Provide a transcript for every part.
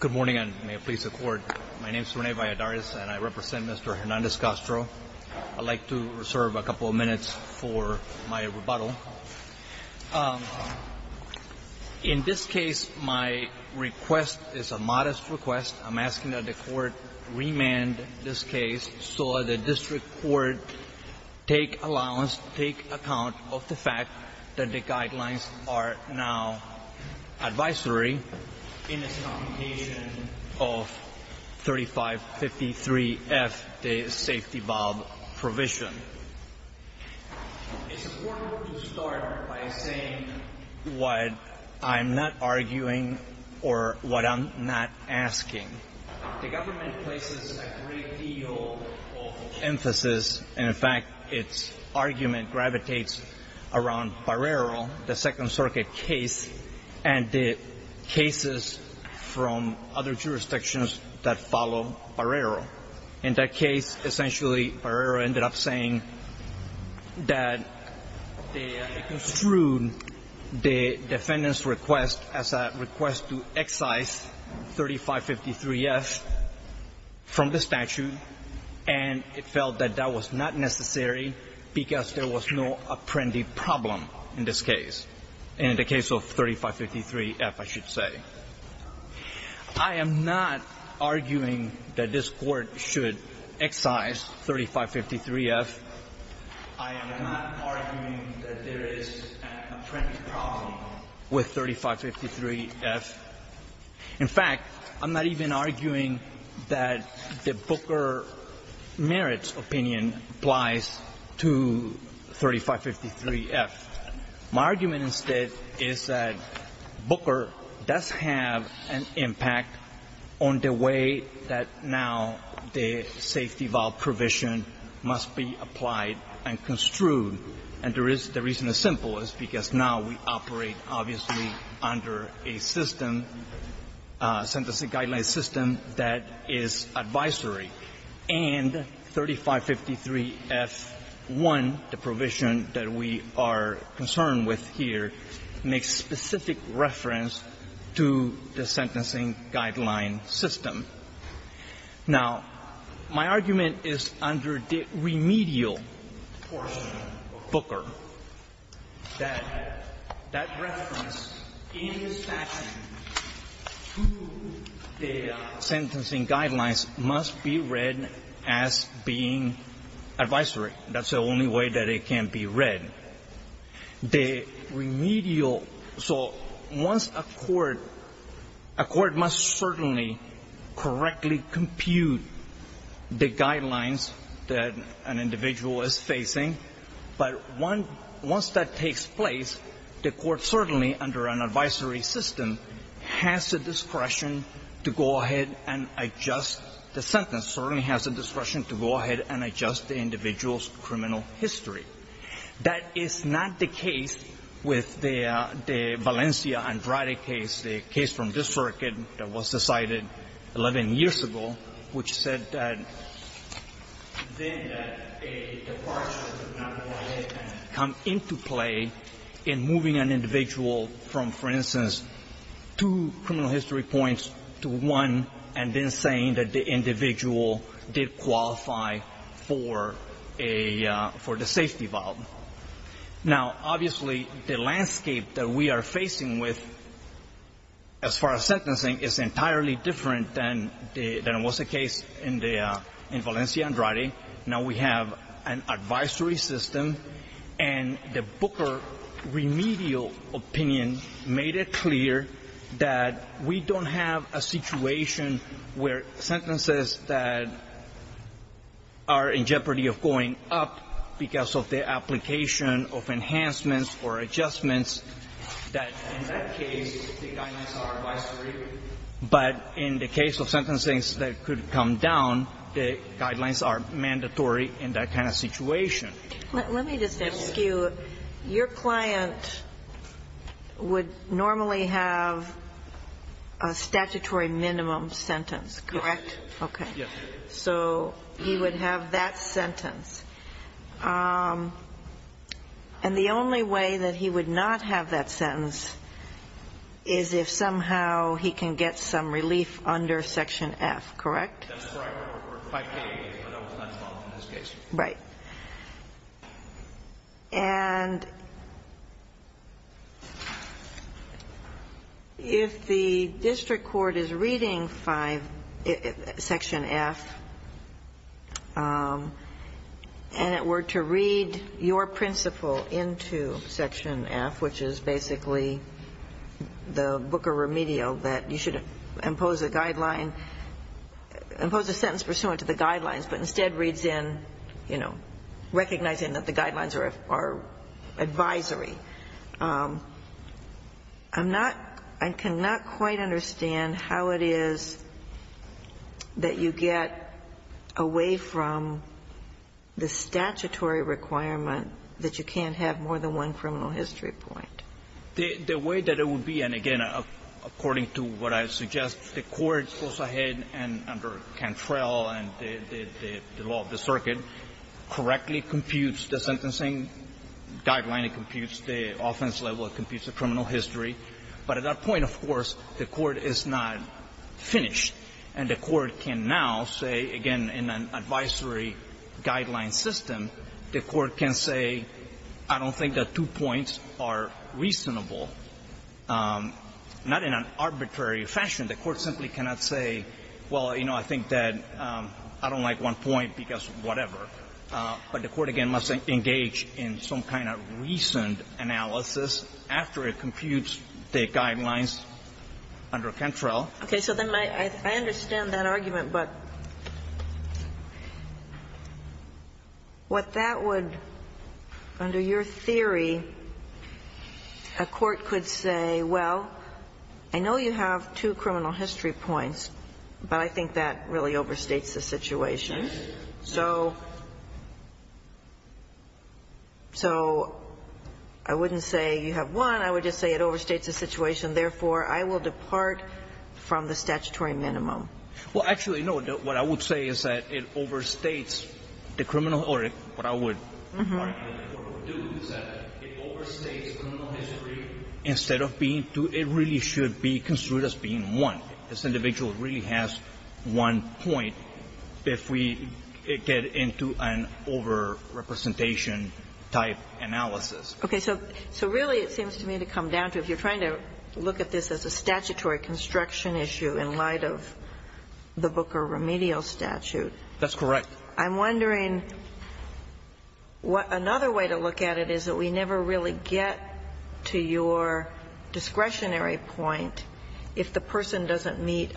Good morning and may it please the court. My name is Rene Valladares and I represent Mr. Hernandez-Castro. I'd like to reserve a couple of minutes for my rebuttal. In this case, my request is a modest request. I'm asking that the court remand this case so the district court take allowance, take account of the fact that the guidelines are now advisory in this computation of 3553F, the safety valve provision. It's important to start by saying what I'm not arguing or what I'm not asking. The government places a great deal of emphasis and in fact its argument gravitates around Barrero, the Second Circuit case and the cases from other jurisdictions that follow Barrero. In that case, essentially Barrero ended up that they construed the defendant's request as a request to excise 3553F from the statute and it felt that that was not necessary because there was no apprendee problem in this case, in the case of 3553F, I should say. I am not arguing that this court should excise 3553F. I am not arguing that there is an apprentice problem with 3553F. In fact, I'm not even arguing that the Booker Merit's opinion applies to 3553F. My argument instead is that Booker does have an impact on the way that now the safety valve provision must be applied and construed and there is the reason it's simple is because now we operate obviously under a system, sentencing guideline system that is advisory and 3553F1, the provision that we are concerned with here, makes specific reference to the sentencing guideline system. Now, my argument is under the remedial portion of Booker that that reference in the statute to the sentencing guidelines must be read as being advisory. That's the only way that it can be read. The remedial, so once a court, a court must certainly correctly compute the guidelines that an individual is facing, but once that takes place, the court certainly under an advisory system has the discretion to go ahead and adjust the sentence, certainly has the discretion to go ahead and adjust the individual's criminal history. That is not the case with the Valencia-Andrade case, the case from this circuit that was decided 11 years ago, which said that then that a departure would not come into play in moving an individual from, for instance, two criminal history points to one and then saying that the individual did qualify for a, for the safety valve. Now, obviously, the landscape that we are facing with, as far as sentencing, is entirely different than it was the case in Valencia-Andrade. Now, we have an advisory system, and the Booker remedial opinion made it clear that we don't have a situation where sentences that are in jeopardy of going up because of the application of enhancements or adjustments that, in that case, the guidelines are advisory. But in the case of sentencing that could come down, the guidelines are mandatory in that kind of situation. Let me just ask you, your client would normally have a statutory minimum sentence, correct? Yes. Okay. So he would have that sentence. And the only way that he would not have that sentence is if somehow he can get some relief under Section F, correct? That's right. Or 5K, but that was not involved in this case. Right. And if the district court is reading 5, Section F, and it were to read your principle into Section F, which is basically the Booker remedial, that you should impose a guideline, impose a sentence pursuant to the guidelines, but instead reads in, you know, recognizing that the guidelines are advisory. I'm not – I cannot quite understand how it is that you get away from the statutory requirement that you can't have more than one criminal history point. The way that it would be, and again, according to what I suggest, the court goes ahead and under Cantrell and the law of the circuit, correctly computes the sentencing guideline. It computes the offense level. It computes the criminal history. But at that point, of course, the court is not finished. And the court can now say, again, in an advisory guideline system, the court can say, I don't think that two points are reasonable. Not in an arbitrary fashion. The court simply cannot say, well, you know, I think that I don't like one point because whatever. But the court, again, must engage in some kind of reasoned analysis after it computes the guidelines under Cantrell. Sotomayor, I understand that argument, but what that would, under your theory, a court could say, well, I know you have two criminal history points, but I think that really overstates the situation. So I wouldn't say you have one, I would just say it overstates the situation. Therefore, I will depart from the statutory minimum. Well, actually, no. What I would say is that it overstates the criminal or what I would do is that it overstates criminal history instead of being two. It really should be construed as being one. This individual really has one point if we get into an overrepresentation-type analysis. Okay. So really, it seems to me to come down to, if you're trying to look at this as a statutory construction issue in light of the Booker remedial statute. That's correct. I'm wondering what another way to look at it is that we never really get to your discretionary point if the person doesn't meet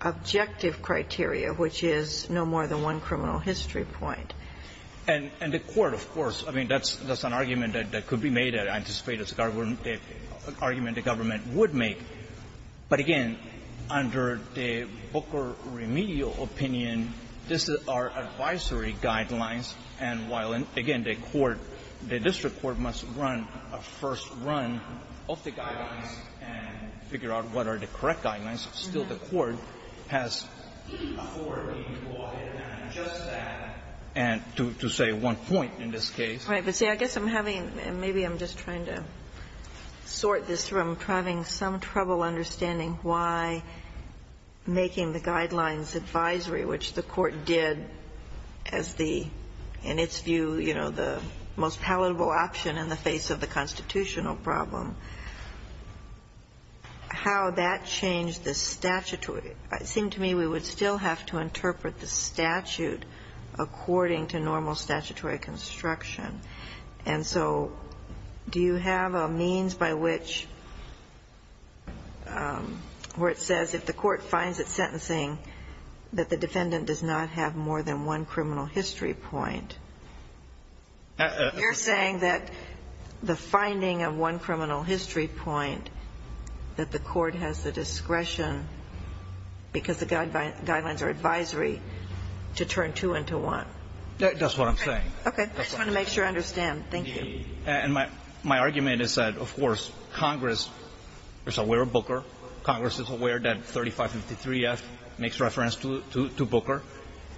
objective criteria, which is no more than one criminal history point. And the Court, of course, I mean, that's an argument that could be made, I anticipate it's an argument the government would make. But again, under the Booker remedial opinion, this is our advisory guidelines. And while, again, the court, the district court must run a first run of the guidelines and figure out what are the correct guidelines, still the court has afforded to go ahead and adjust that to, say, one point in this case. Right. But, see, I guess I'm having, maybe I'm just trying to sort this through. I'm having some trouble understanding why making the guidelines advisory, which the Court did as the, in its view, you know, the most palatable option in the face of the constitutional problem, how that changed the statutory. It seemed to me we would still have to interpret the statute according to normal statutory construction. And so do you have a means by which, where it says if the court finds it sentencing that the defendant does not have more than one criminal history point, you're saying that the finding of one criminal history point that the court has the because the guidelines are advisory, to turn two into one? That's what I'm saying. Okay. I just want to make sure I understand. Thank you. And my argument is that, of course, Congress is aware of Booker. Congress is aware that 3553F makes reference to Booker,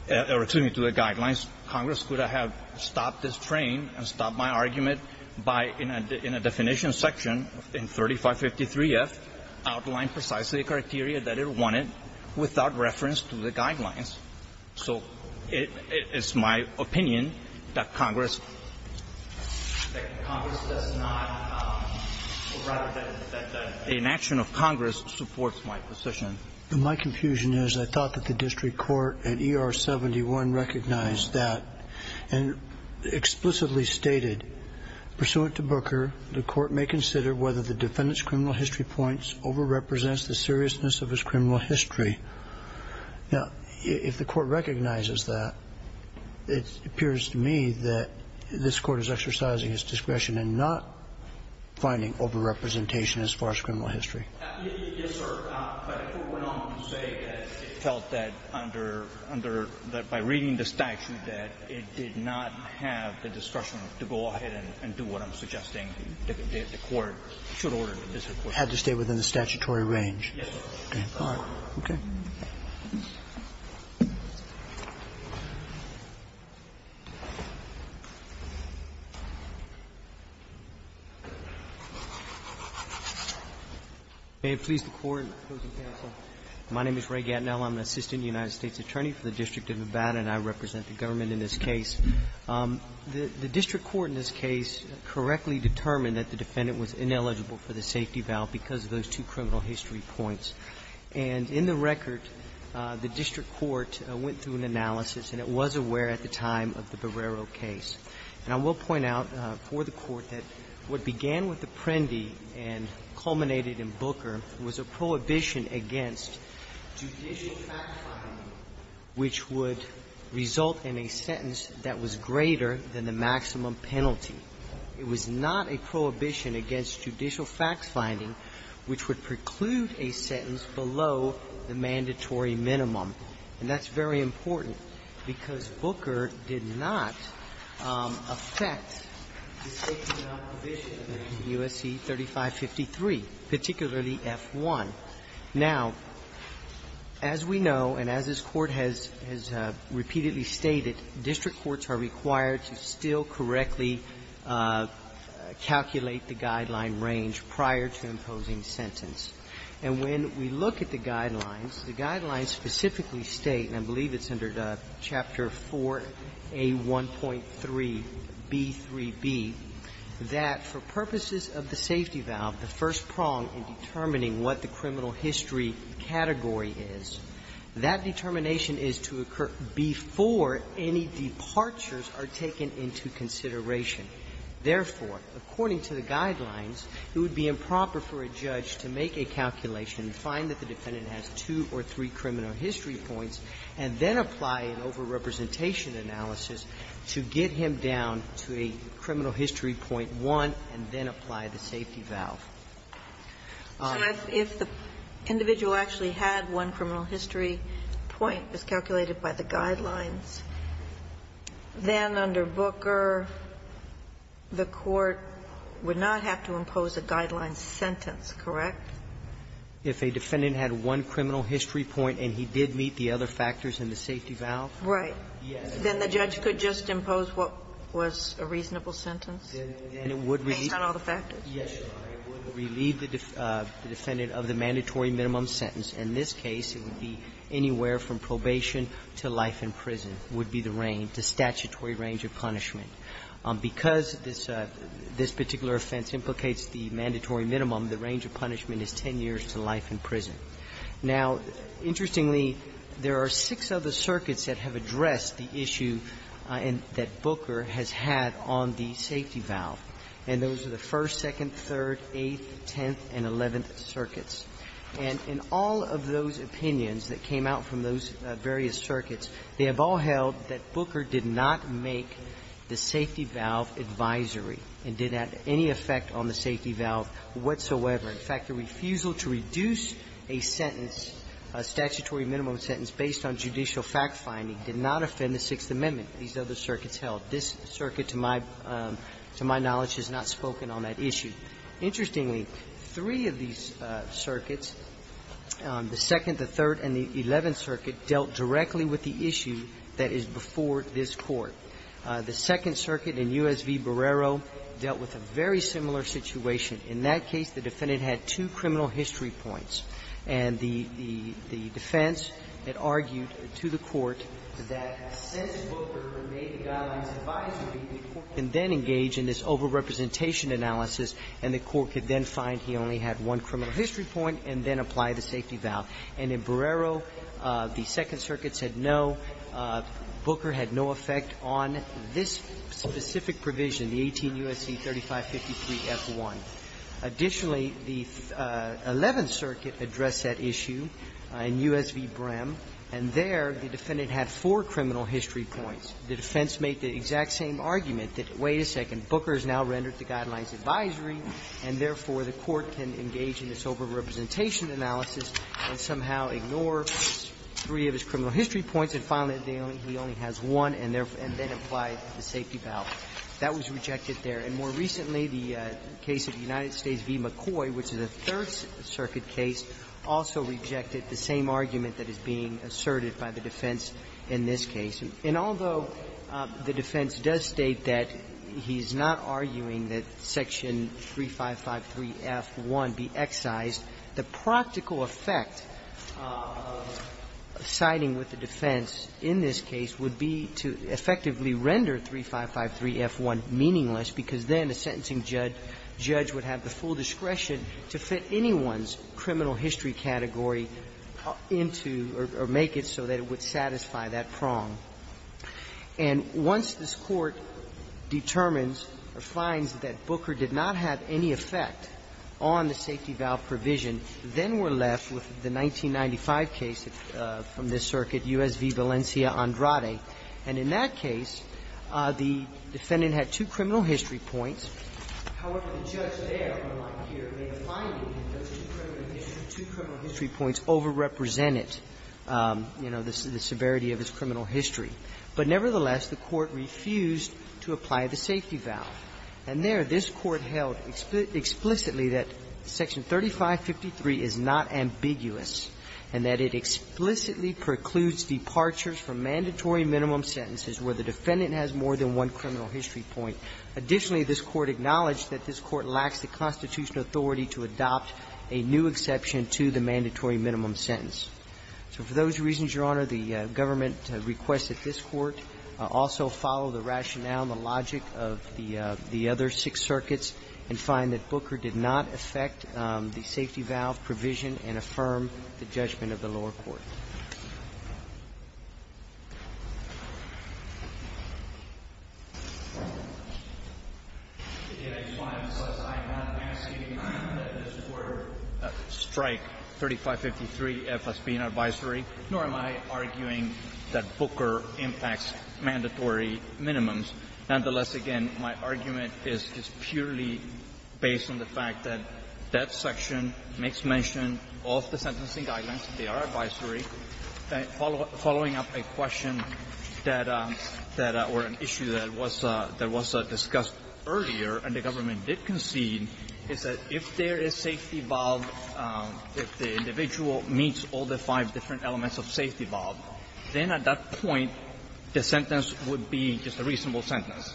or excuse me, to the guidelines. Congress could have stopped this train and stopped my argument by, in a definition section in 3553F, outlined precisely the criteria that it wanted without reference to the guidelines. So it's my opinion that Congress does not, or rather that the inaction of Congress supports my position. My confusion is I thought that the district court at ER 71 recognized that and explicitly stated, pursuant to Booker, the court may consider whether the defendant's criminal history points over-represents the seriousness of his criminal history. Now, if the court recognizes that, it appears to me that this court is exercising its discretion in not finding over-representation as far as criminal history. Yes, sir. But I think we're not going to say that it felt that by reading the statute that it did not have the discretion to go ahead and do what I'm suggesting the court should order this report. Had to stay within the statutory range. Yes, sir. Okay. All right. Okay. May it please the Court and the opposing counsel, my name is Ray Gatinell. I'm an assistant United States attorney for the District of Nevada, and I represent the government in this case. The district court in this case correctly determined that the defendant was ineligible for the safety valve because of those two criminal history points. And in the record, the district court went through an analysis, and it was aware at the time of the Barrero case. And I will point out for the Court that what began with the Prendi and culminated in Booker was a prohibition against judicial fact-finding which would result in a sentence that was greater than the maximum penalty. It was not a prohibition against judicial fact-finding which would preclude a sentence below the mandatory minimum. And that's very important because Booker did not affect the safety valve provision in U.S.C. 3553, particularly F-1. Now, as we know, and as this Court has repeatedly stated, district courts are required to still correctly calculate the guideline range prior to imposing sentence. And when we look at the guidelines, the guidelines specifically state, and I believe it's under Chapter 4A1.3b3b, that for purposes of the safety valve, the first prong in determining what the criminal history category is, that determination is to occur before any departures are taken into consideration. Therefore, according to the guidelines, it would be improper for a judge to make a calculation and find that the defendant has two or three criminal history points and then apply an over-representation analysis to get him down to a criminal history point one and then apply the safety valve. Ginsburg. If the individual actually had one criminal history point, as calculated by the guidelines, then under Booker, the court would not have to impose a guideline sentence, correct? If a defendant had one criminal history point and he did meet the other factors in the safety valve? Right. Yes. Then the judge could just impose what was a reasonable sentence? Then it would relieve the defendant of the mandatory minimum sentence. In this case, it would be anywhere from probation to life in prison would be the range, the statutory range of punishment. Because this particular offense implicates the mandatory minimum, the range of punishment is 10 years to life in prison. Now, interestingly, there are six other circuits that have addressed the issue that Booker has had on the safety valve. And those are the First, Second, Third, Eighth, Tenth, and Eleventh circuits. And in all of those opinions that came out from those various circuits, they have all held that Booker did not make the safety valve advisory and did have any effect on the safety valve whatsoever. In fact, the refusal to reduce a sentence, a statutory minimum sentence based on judicial fact-finding did not offend the Sixth Amendment. These other circuits held. This circuit, to my knowledge, has not spoken on that issue. Interestingly, three of these circuits, the Second, the Third, and the Eleventh circuit dealt directly with the issue that is before this Court. The Second Circuit in U.S. v. Barrero dealt with a very similar situation. In that case, the defendant had two criminal history points. And the defense had argued to the Court that since Booker made the guideline's advisory, the Court can then engage in this over-representation analysis, and the Court could then find he only had one criminal history point and then apply the safety valve. And in Barrero, the Second Circuit said, no, Booker had no effect on this specific provision, the 18 U.S.C. 3553-F1. Additionally, the Eleventh Circuit addressed that issue in U.S. v. Brehm, and there the defendant had four criminal history points. The defense made the exact same argument that, wait a second, Booker has now rendered the guideline's advisory, and therefore, the Court can engage in this over-representation analysis and somehow ignore three of his criminal history points and find that he only has one and then apply the safety valve. That was rejected there. And more recently, the case of the United States v. McCoy, which is a Third Circuit case, also rejected the same argument that is being asserted by the defense in this case. And although the defense does state that he's not arguing that Section 3553-F1 be excised, the practical effect of siding with the defense in this case would be to effectively render 3553-F1 meaningless, because then a sentencing judge would have the full discretion to fit anyone's criminal history category into or make it so that it would satisfy that prong. And once this Court determines or finds that Booker did not have any effect on the safety valve provision, then we're left with the 1995 case from this circuit, U.S. v. Valencia-Andrade. And in that case, the defendant had two criminal history points. However, the judge there, unlike here, made a finding that those two criminal history points over-represented, you know, the severity of his criminal history. But nevertheless, the Court refused to apply the safety valve. And there, this Court held explicitly that Section 3553 is not ambiguous and that it explicitly precludes departures from mandatory minimum sentences where the defendant has more than one criminal history point. Additionally, this Court acknowledged that this Court lacks the constitutional authority to adopt a new exception to the mandatory minimum sentence. So for those reasons, Your Honor, the government requests that this Court also follow the rationale and the logic of the other six circuits and find that Booker did not affect the safety valve provision and affirm the judgment of the lower court. I'm not asking that this Court strike 3553 F.S.P. in advisory, nor am I arguing that Booker impacts mandatory minimums. Nonetheless, again, my argument is purely based on the fact that that section makes mention of the sentencing guidelines. They are advisory. Following up a question that or an issue that was discussed earlier, and the government did concede, is that if there is safety valve, if the individual meets all the five different elements of safety valve, then at that point the sentence would be just a reasonable sentence.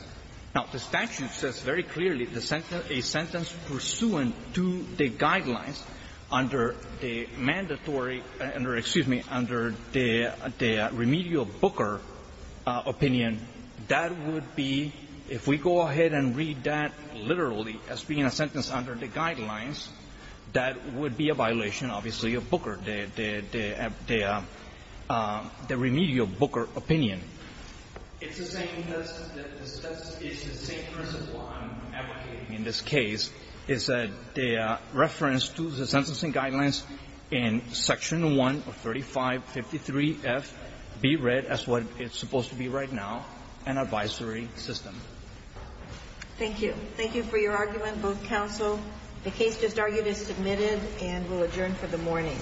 Now, the statute says very clearly that if there is a sentence pursuant to the guidelines under the mandatory under, excuse me, under the remedial Booker opinion, that would be, if we go ahead and read that literally as being a sentence under the guidelines, that would be a violation, obviously, of Booker, the remedial Booker opinion. It's the same principle I'm advocating in this case, is that the reference to the sentencing guidelines in Section 1 of 3553 F be read as what it's supposed to be right now, an advisory system. Thank you. Thank you for your argument, both counsel. The case just argued is submitted and will adjourn for the morning.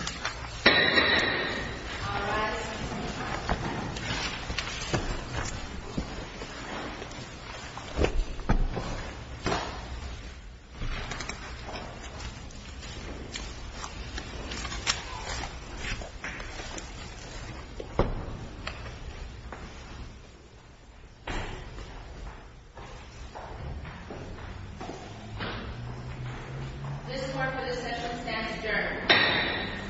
Thank you.